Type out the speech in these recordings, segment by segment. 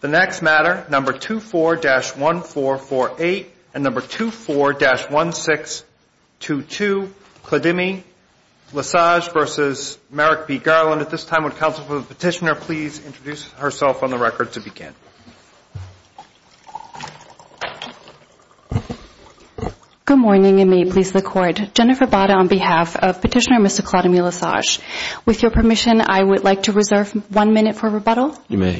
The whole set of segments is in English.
The next matter, No. 24-1448 and No. 24-1622, Clodemi-Lasage v. Merrick B. Garland. At this time, would the Council for the Petitioner please introduce herself on the record to begin. Jennifer Bada Good morning, and may it please the Court. Jennifer Bada on behalf of Petitioner Mr. Clodemi-Lasage. With your permission, I would like to reserve one minute for rebuttal. Clodemi-Lasage You may. Jennifer Bada Good morning, and may it please the Court. Jennifer Bada Good morning, and may it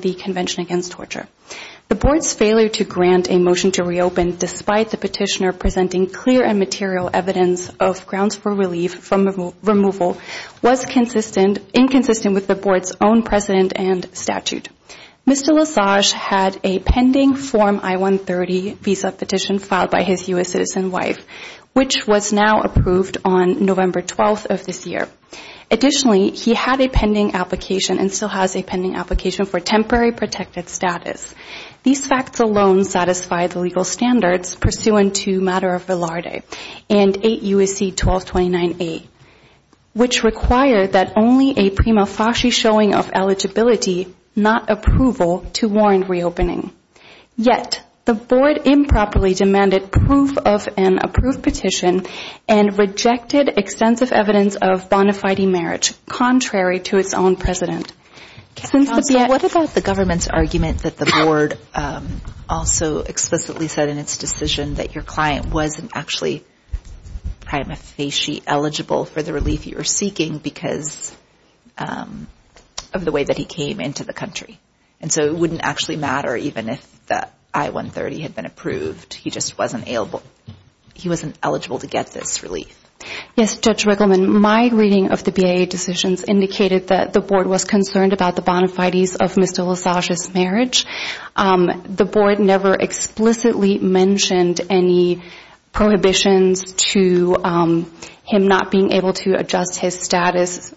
please the Court. The Board's failure to grant a motion to reopen, despite the Petitioner presenting clear and material evidence of grounds for relief from removal, was inconsistent with the Board's own precedent and statute. Mr. Lasage had a pending Form I-130 visa petition filed by his U.S. citizen wife, which was now approved on November 12th of this year. Additionally, he had a pending application and still has a pending application for temporary protected status. These facts alone satisfy the legal standards pursuant to Matter of Velarde and 8 U.S.C. 1229A, which require that only a prima facie showing of eligibility, not approval, to warrant reopening. Yet, the Board improperly demanded proof of an approved petition and rejected extensive evidence of bona fide marriage, contrary to its own precedent. Jennifer Bada What about the government's argument that the Board also explicitly said in its decision that your client wasn't actually prima facie eligible for the relief you were seeking because of the way that he came into the country? And so it wouldn't actually matter even if that I-130 had been approved. He just wasn't eligible to get this relief. Jennifer Bada Yes, Judge Riggleman. My reading of the BIA decisions indicated that the Board was concerned about the bona fides of Mr. Lasage's marriage. The Board never explicitly mentioned any prohibitions to him not being able to adjust his status.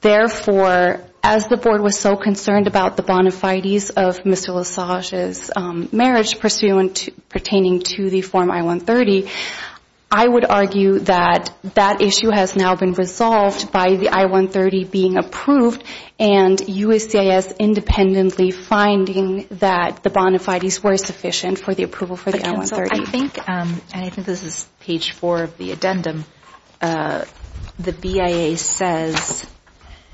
Therefore, as the Board was so concerned about the bona fides of Mr. Lasage's marriage pertaining to the Form I-130, I would argue that that issue has now been resolved by the I-130 being approved and USCIS independently finding that the bona fides were sufficient for the approval for the I-130. And I think this is page four of the addendum. The BIA says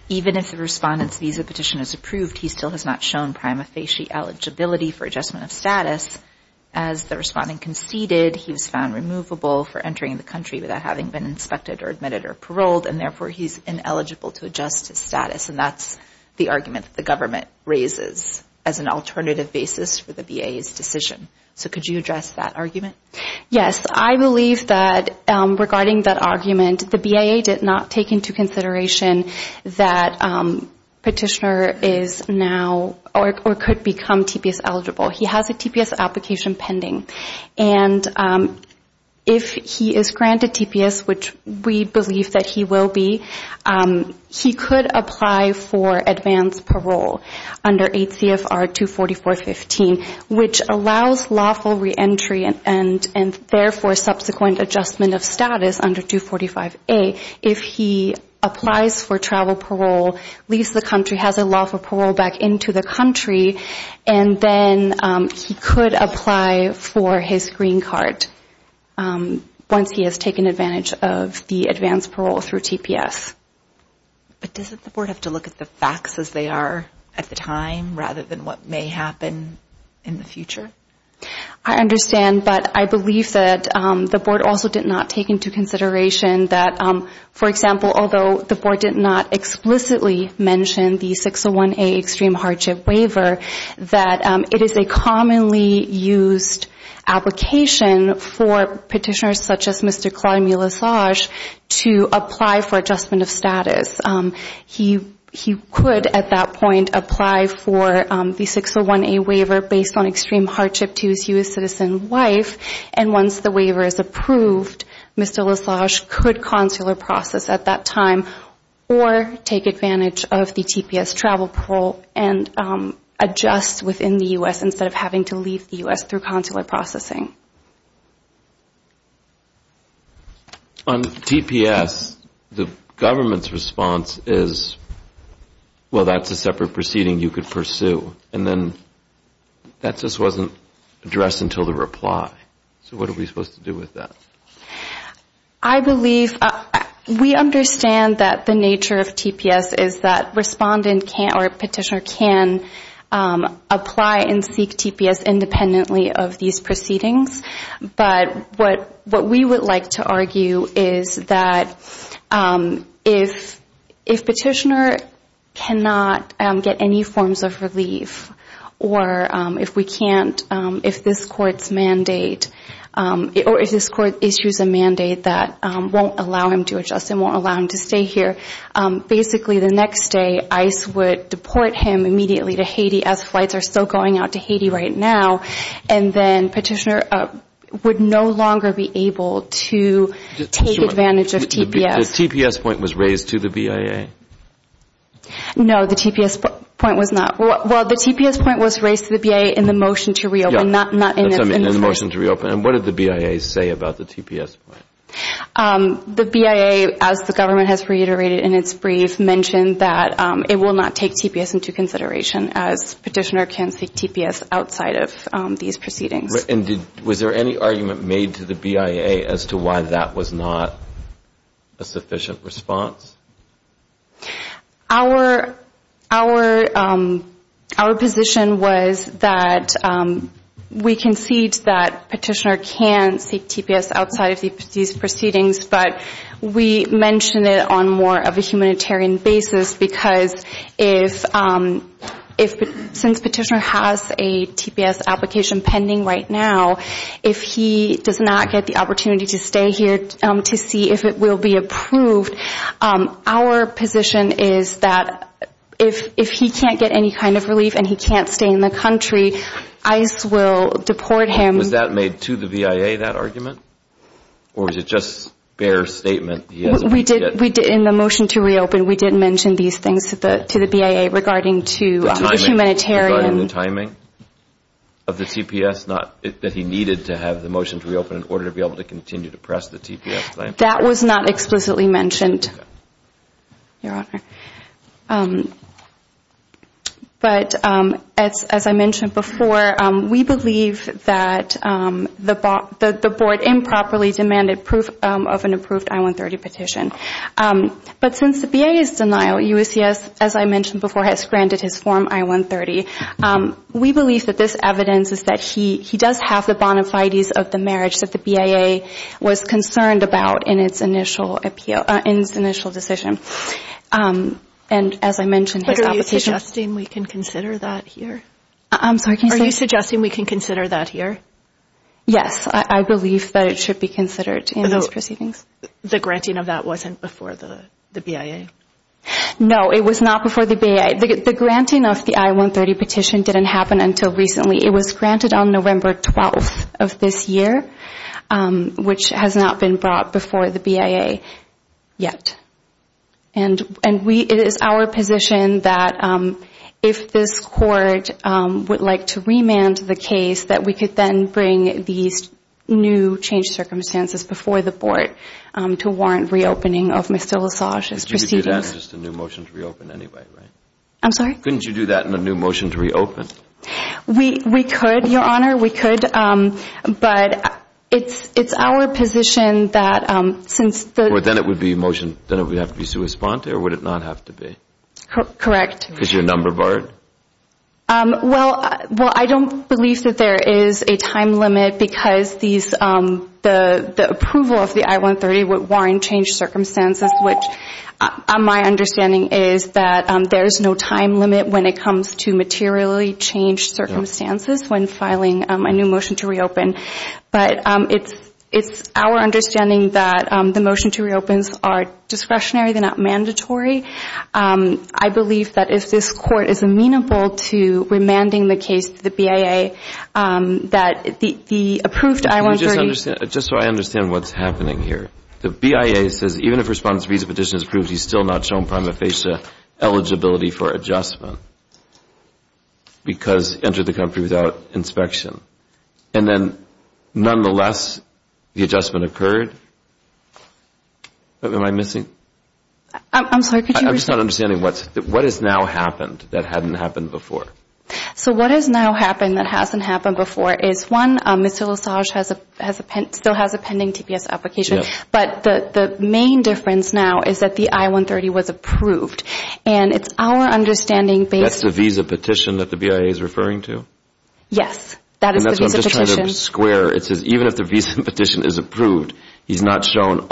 even if the respondent's visa petition is approved, he still has not shown prima facie eligibility for adjustment of status. As the respondent conceded, he was found removable for entering the country without having been inspected or admitted or paroled, and therefore he's ineligible to adjust his status. And that's the argument that the government raises as an alternative basis for the BIA's decision. So could you address that argument? Yes. I believe that regarding that argument, the BIA did not take into consideration that petitioner is now or could become TPS eligible. He has a TPS application pending. And if he is granted TPS, which we believe that he will be, he could apply for advanced parole under 8 CFR 244.15, which allows lawful reentry and therefore subsequent adjustment of status under 245A if he applies for travel parole, leaves the country, has a lawful parole back into the country, and then he could apply for his green card once he has taken advantage of the advanced parole through TPS. But doesn't the board have to look at the facts as they are at the time rather than what may happen in the future? He could at that point apply for the 601A waiver based on extreme hardship to his U.S. citizen wife. And once the waiver is approved, Mr. LaSage could consular process at that time or take advantage of the TPS travel parole and adjust within the U.S. instead of having to leave the U.S. through consular processing. On TPS, the government's response is, well, that's a separate proceeding you could pursue. And then that just wasn't addressed until the reply. So what are we supposed to do with that? I believe we understand that the nature of TPS is that respondent or petitioner can apply and seek TPS independently of these proceedings. But what we would like to argue is that if petitioner cannot get any forms of relief or if we can't, if this court's mandate or if this court issues a mandate that won't allow him to adjust and won't allow him to stay here, basically the next day ICE would deport him immediately to Haiti as flights are still going out to Haiti right now. And then petitioner would no longer be able to take advantage of TPS. The TPS point was raised to the BIA? No, the TPS point was not. Well, the TPS point was raised to the BIA in the motion to reopen. In the motion to reopen. And what did the BIA say about the TPS point? The BIA, as the government has reiterated in its brief, mentioned that it will not take TPS into consideration as petitioner can seek TPS outside of these proceedings. And was there any argument made to the BIA as to why that was not a sufficient response? Our position was that we concede that petitioner can seek TPS outside of these proceedings, but we mentioned it on more of a humanitarian basis because since petitioner has a TPS application pending right now, if he does not get the opportunity to stay here to see if it will be approved, our position is that if he can't get any kind of relief and he can't stay in the country, ICE will deport him. Was that made to the BIA, that argument? Or was it just bare statement? In the motion to reopen, we did mention these things to the BIA regarding to humanitarian. The timing of the TPS, that he needed to have the motion to reopen in order to be able to continue to press the TPS claim? That was not explicitly mentioned, Your Honor. But as I mentioned before, we believe that the board improperly demanded proof of an approved I-130 petition. But since the BIA's denial, USCIS, as I mentioned before, has granted his form I-130. We believe that this evidence is that he does have the bona fides of the marriage that the BIA was concerned about in its initial decision. And as I mentioned, his application... But are you suggesting we can consider that here? I'm sorry, can you say? Are you suggesting we can consider that here? Yes, I believe that it should be considered in these proceedings. The granting of that wasn't before the BIA? No, it was not before the BIA. The granting of the I-130 petition didn't happen until recently. It was granted on November 12th of this year, which has not been brought before the BIA yet. And it is our position that if this court would like to remand the case, that we could then bring these new changed circumstances before the board to warrant reopening of Mr. LaSage's proceedings. But you could do that in just a new motion to reopen anyway, right? I'm sorry? Couldn't you do that in a new motion to reopen? We could, Your Honor, we could. But it's our position that since the... Then it would be a motion that would have to be sui sponte or would it not have to be? Correct. Because you're a number board? Well, I don't believe that there is a time limit because the approval of the I-130 would warrant changed circumstances, which my understanding is that there is no time limit when it comes to materially changed circumstances when filing a new motion to reopen. But it's our understanding that the motion to reopens are discretionary, they're not mandatory. I believe that if this court is amenable to remanding the case to the BIA, that the approved I-130... Just so I understand what's happening here. The BIA says even if Respondent's visa petition is approved, he's still not shown prima facie eligibility for adjustment because he entered the country without inspection. And then, nonetheless, the adjustment occurred? Am I missing? I'm sorry, could you... I'm just not understanding what has now happened that hadn't happened before? So what has now happened that hasn't happened before is, one, Mr. LaSage still has a pending TPS application, but the main difference now is that the I-130 was approved. And it's our understanding based... That's the visa petition that the BIA is referring to? Yes. And that's what I'm just trying to square. It says even if the visa petition is approved, he's not shown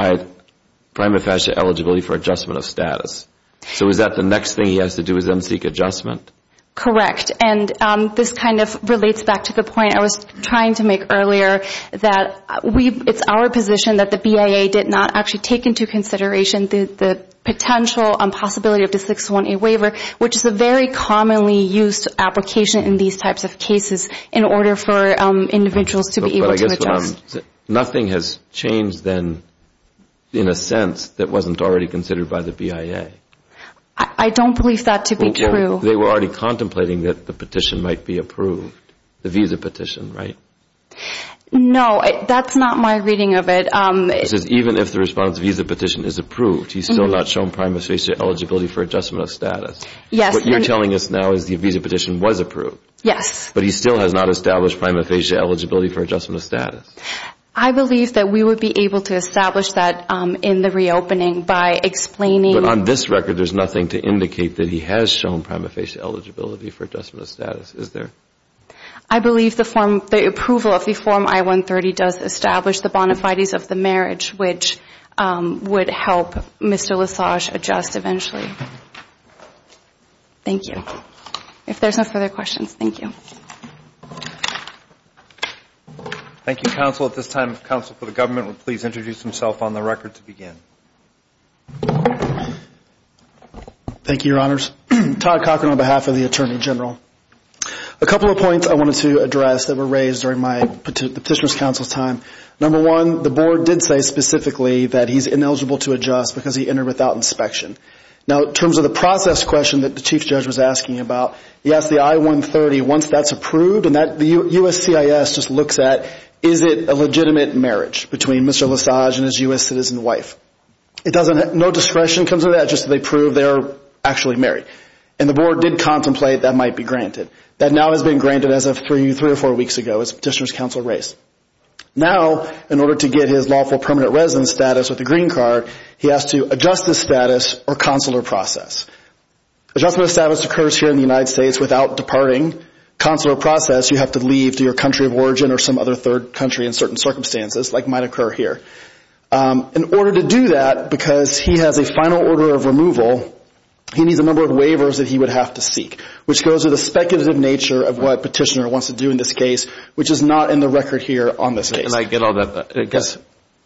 prima facie eligibility for adjustment of status. So is that the next thing he has to do is then seek adjustment? Correct. And this kind of relates back to the point I was trying to make earlier that it's our position that the BIA did not actually take into consideration the potential possibility of the 601A waiver, which is a very commonly used application in these types of cases in order for individuals to be able to adjust. But I guess what I'm... Nothing has changed then in a sense that wasn't already considered by the BIA? I don't believe that to be true. They were already contemplating that the petition might be approved, the visa petition, right? No, that's not my reading of it. It says even if the response visa petition is approved, he's still not shown prima facie eligibility for adjustment of status. Yes. What you're telling us now is the visa petition was approved. Yes. But he still has not established prima facie eligibility for adjustment of status. I believe that we would be able to establish that in the reopening by explaining... But on this record, there's nothing to indicate that he has shown prima facie eligibility for adjustment of status, is there? I believe the approval of the Form I-130 does establish the bona fides of the marriage, which would help Mr. Lesage adjust eventually. Thank you. If there's no further questions, thank you. Thank you, counsel. At this time, counsel for the government will please introduce himself on the record to begin. Thank you, Your Honors. Todd Cochran on behalf of the Attorney General. A couple of points I wanted to address that were raised during the Petitioner's Counsel's time. Number one, the board did say specifically that he's ineligible to adjust because he entered without inspection. Now, in terms of the process question that the Chief Judge was asking about, he asked the I-130 once that's approved, and the USCIS just looks at, is it a legitimate marriage between Mr. Lesage and his U.S. citizen wife? No discretion comes with that, just that they prove they're actually married. And the board did contemplate that might be granted. That now has been granted as of three or four weeks ago as Petitioner's Counsel raised. Now, in order to get his lawful permanent residence status with the green card, he has to adjust his status or consular process. Adjustment of status occurs here in the United States without departing consular process. You have to leave to your country of origin or some other third country in certain circumstances, like might occur here. In order to do that, because he has a final order of removal, he needs a number of waivers that he would have to seek, which goes with the speculative nature of what Petitioner wants to do in this case, which is not in the record here on this case. Can I get all that back? Yes.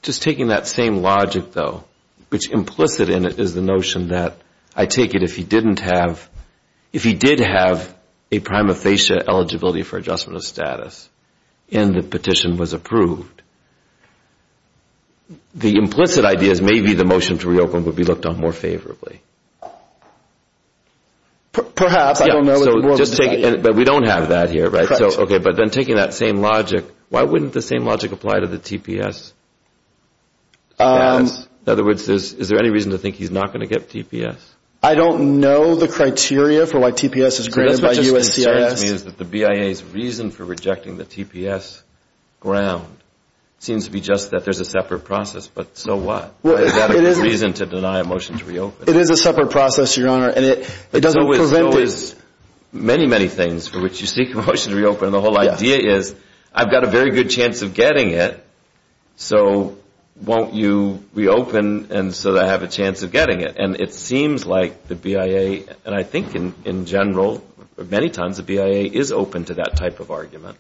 Just taking that same logic, though, which implicit in it is the notion that, I take it if he didn't have, if he did have a prima facie eligibility for adjustment of status and the petition was approved, the implicit idea is maybe the motion to reopen would be looked on more favorably. Perhaps. But we don't have that here, right? Correct. Okay, but then taking that same logic, why wouldn't the same logic apply to the TPS? In other words, is there any reason to think he's not going to get TPS? I don't know the criteria for why TPS is granted by USCIS. What you're telling me is that the BIA's reason for rejecting the TPS ground seems to be just that there's a separate process, but so what? Is that a good reason to deny a motion to reopen? It is a separate process, Your Honor, and it doesn't prevent it. There's always many, many things for which you seek a motion to reopen, and the whole idea is I've got a very good chance of getting it, so won't you reopen so that I have a chance of getting it? And it seems like the BIA, and I think in general, many times, the BIA is open to that type of argument.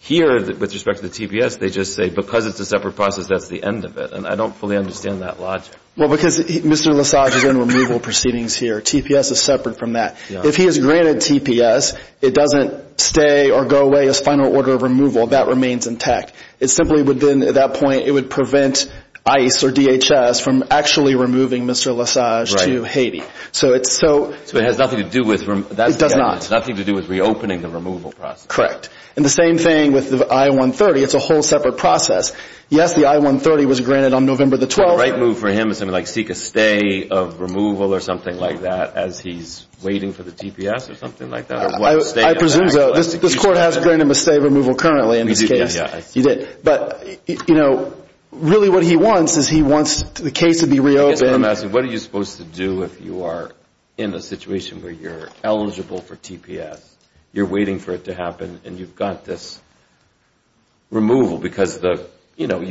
Here, with respect to the TPS, they just say because it's a separate process, that's the end of it, and I don't fully understand that logic. Well, because Mr. Lesage is in removal proceedings here. TPS is separate from that. If he is granted TPS, it doesn't stay or go away as final order of removal. That remains intact. It simply would then, at that point, it would prevent ICE or DHS from actually removing Mr. Lesage to Haiti. So it's so – So it has nothing to do with – It does not. It has nothing to do with reopening the removal process. Correct. And the same thing with the I-130. It's a whole separate process. Yes, the I-130 was granted on November the 12th. The right move for him is to seek a stay of removal or something like that as he's waiting for the TPS or something like that. I presume so. This Court has granted him a stay of removal currently in this case. We did, yeah. You did. But, you know, really what he wants is he wants the case to be reopened. I'm asking, what are you supposed to do if you are in a situation where you're eligible for TPS, you're waiting for it to happen, and you've got this removal because the – you know,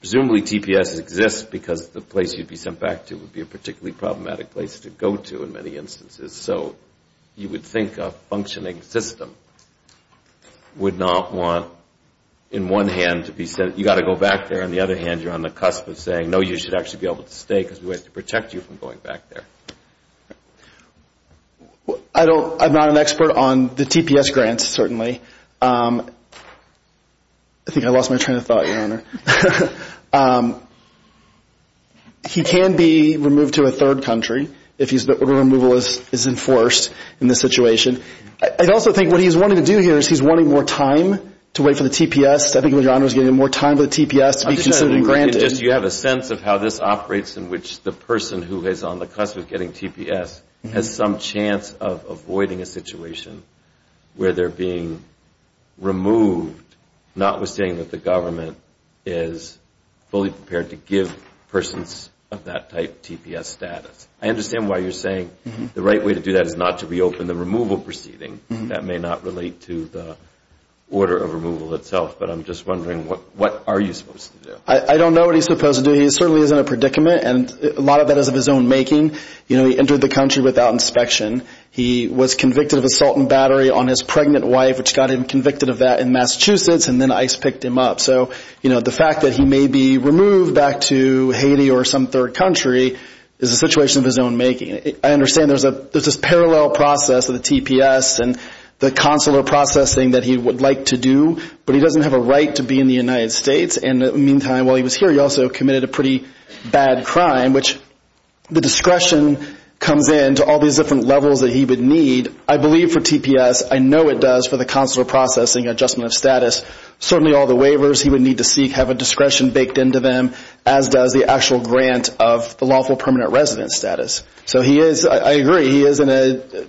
presumably TPS exists because the place you'd be sent back to would be a particularly problematic place to go to in many instances. So you would think a functioning system would not want in one hand to be sent – you've got to go back there. On the other hand, you're on the cusp of saying, no, you should actually be able to stay because we have to protect you from going back there. I don't – I'm not an expert on the TPS grants, certainly. I think I lost my train of thought, Your Honor. He can be removed to a third country if the removal is enforced in this situation. I also think what he's wanting to do here is he's wanting more time to wait for the TPS. I think, Your Honor, he's getting more time for the TPS to be considered and granted. You have a sense of how this operates in which the person who is on the cusp of getting TPS has some chance of avoiding a situation where they're being removed, notwithstanding that the government is fully prepared to give persons of that type TPS status. I understand why you're saying the right way to do that is not to reopen the removal proceeding. That may not relate to the order of removal itself, but I'm just wondering what are you supposed to do? I don't know what he's supposed to do. He certainly isn't a predicament, and a lot of that is of his own making. He entered the country without inspection. He was convicted of assault and battery on his pregnant wife, which got him convicted of that in Massachusetts, and then ICE picked him up. So the fact that he may be removed back to Haiti or some third country is a situation of his own making. I understand there's this parallel process of the TPS and the consular processing that he would like to do, but he doesn't have a right to be in the United States, and in the meantime while he was here he also committed a pretty bad crime, which the discretion comes in to all these different levels that he would need. And I believe for TPS, I know it does for the consular processing adjustment of status, certainly all the waivers he would need to seek have a discretion baked into them, as does the actual grant of the lawful permanent residence status. So he is, I agree, he is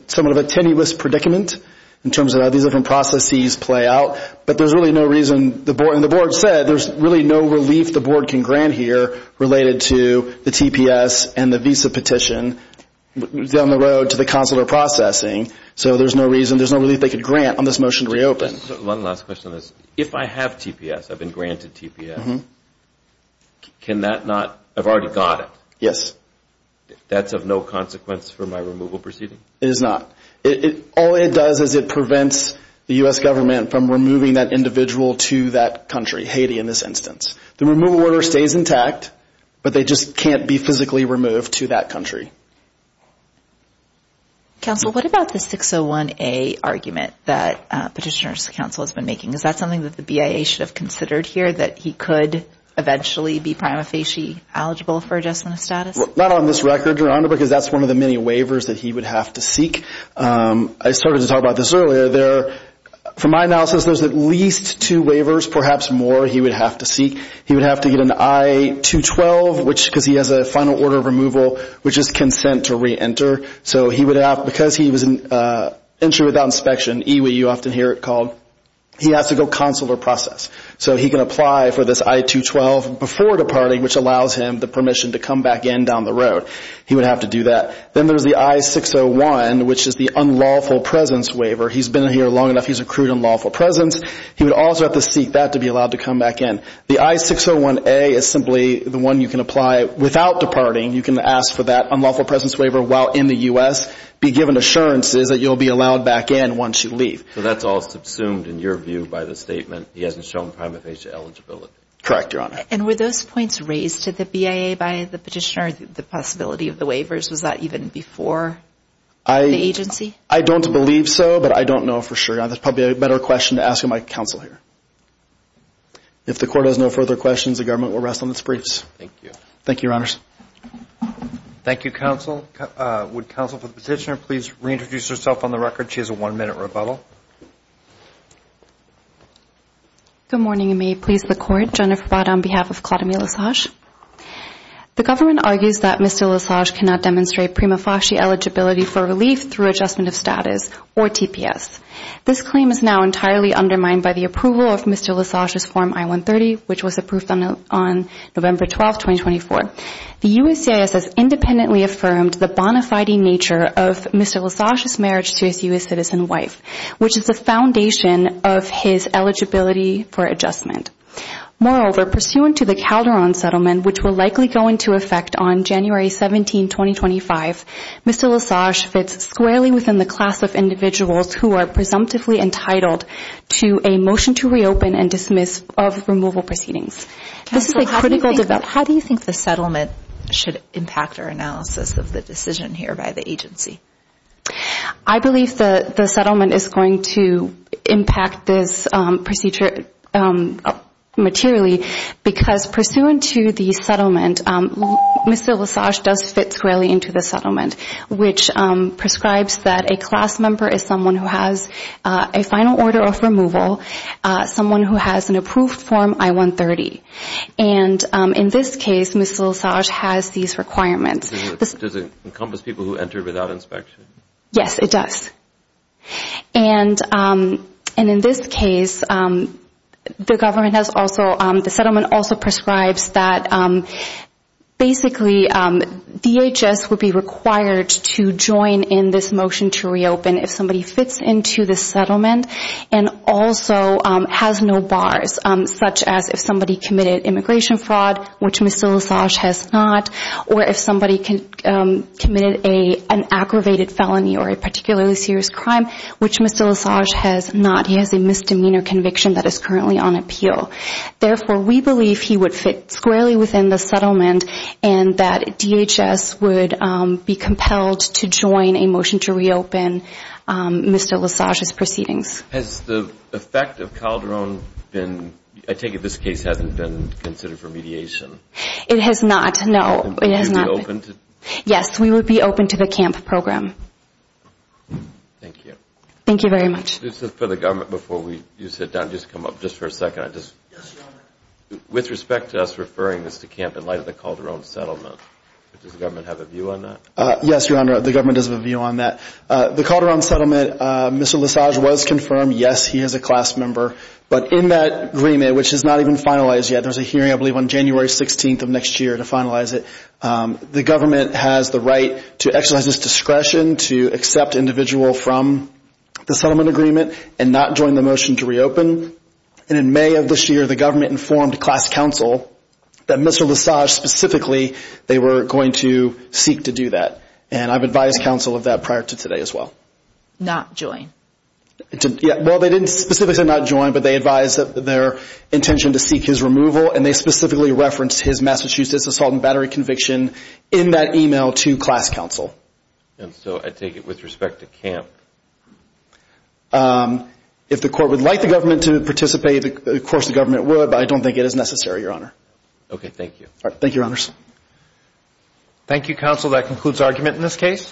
somewhat of a tenuous predicament in terms of how these different processes play out, but there's really no reason, and the board said there's really no relief the board can grant here related to the TPS and the visa petition down the road to the consular processing, so there's no reason, there's no relief they could grant on this motion to reopen. One last question on this. If I have TPS, I've been granted TPS, can that not, I've already got it. Yes. That's of no consequence for my removal proceeding? It is not. All it does is it prevents the U.S. government from removing that individual to that country, Haiti in this instance. The removal order stays intact, but they just can't be physically removed to that country. Counsel, what about the 601A argument that Petitioner's Counsel has been making? Is that something that the BIA should have considered here, that he could eventually be prima facie eligible for adjustment of status? Not on this record, Your Honor, because that's one of the many waivers that he would have to seek. I started to talk about this earlier. From my analysis, there's at least two waivers, perhaps more, he would have to seek. He would have to get an I-212, because he has a final order of removal, which is consent to reenter. So he would have, because he was an entry without inspection, EWI, you often hear it called, he has to go consular process. So he can apply for this I-212 before departing, which allows him the permission to come back in down the road. He would have to do that. Then there's the I-601, which is the unlawful presence waiver. He's been here long enough. He's accrued unlawful presence. He would also have to seek that to be allowed to come back in. The I-601A is simply the one you can apply without departing. You can ask for that unlawful presence waiver while in the U.S., be given assurances that you'll be allowed back in once you leave. So that's all subsumed, in your view, by the statement, he hasn't shown prima facie eligibility? Correct, Your Honor. And were those points raised to the BIA by the Petitioner, the possibility of the waivers? Was that even before the agency? I don't believe so, but I don't know for sure. That's probably a better question to ask my counsel here. If the Court has no further questions, the Government will rest on its briefs. Thank you. Thank you, Your Honors. Thank you, Counsel. Would Counsel for the Petitioner please reintroduce herself on the record? She has a one-minute rebuttal. Good morning, and may it please the Court. Jennifer Bott on behalf of Claudia Milosage. The Government argues that Mr. Milosage cannot demonstrate prima facie eligibility for relief through adjustment of status or TPS. This claim is now entirely undermined by the approval of Mr. Milosage's Form I-130, which was approved on November 12, 2024. The USCIS has independently affirmed the bona fide nature of Mr. Milosage's marriage to his U.S. citizen wife, which is the foundation of his eligibility for adjustment. Moreover, pursuant to the Calderon Settlement, which will likely go into effect on January 17, 2025, Mr. Milosage fits squarely within the class of individuals who are presumptively entitled to a motion to reopen and dismiss of removal proceedings. Counsel, how do you think the settlement should impact our analysis of the decision here by the agency? I believe the settlement is going to impact this procedure materially, because pursuant to the settlement, Mr. Milosage does fit squarely into the settlement, which prescribes that a class member is someone who has a final order of removal, someone who has an approved Form I-130. And in this case, Mr. Milosage has these requirements. Does it encompass people who enter without inspection? Yes, it does. And in this case, the settlement also prescribes that basically DHS would be required to join in this motion to reopen if somebody fits into the settlement and also has no bars, such as if somebody committed immigration fraud, which Mr. Milosage has not, or if somebody committed an aggravated felony or a particularly serious crime, which Mr. Milosage has not. He has a misdemeanor conviction that is currently on appeal. Therefore, we believe he would fit squarely within the settlement and that DHS would be compelled to join a motion to reopen Mr. Milosage's proceedings. Has the effect of Calderon been, I take it this case hasn't been considered for mediation? It has not, no. Would you be open to it? Yes, we would be open to the CAMP program. Thank you. Thank you very much. This is for the government before you sit down. Just come up just for a second. Yes, Your Honor. With respect to us referring this to CAMP in light of the Calderon settlement, does the government have a view on that? Yes, Your Honor, the government does have a view on that. The Calderon settlement, Mr. Milosage was confirmed, yes, he is a class member. But in that agreement, which is not even finalized yet, there's a hearing I believe on January 16th of next year to finalize it, the government has the right to exercise its discretion to accept an individual from the settlement agreement and not join the motion to reopen. And in May of this year, the government informed class counsel that Mr. Milosage specifically, they were going to seek to do that. And I've advised counsel of that prior to today as well. Not join. Well, they didn't specifically not join, but they advised their intention to seek his removal, and they specifically referenced his Massachusetts assault and battery conviction in that email to class counsel. And so I take it with respect to CAMP. If the court would like the government to participate, of course the government would, but I don't think it is necessary, Your Honor. Okay, thank you. Thank you, Your Honors. Thank you, counsel. That concludes argument in this case.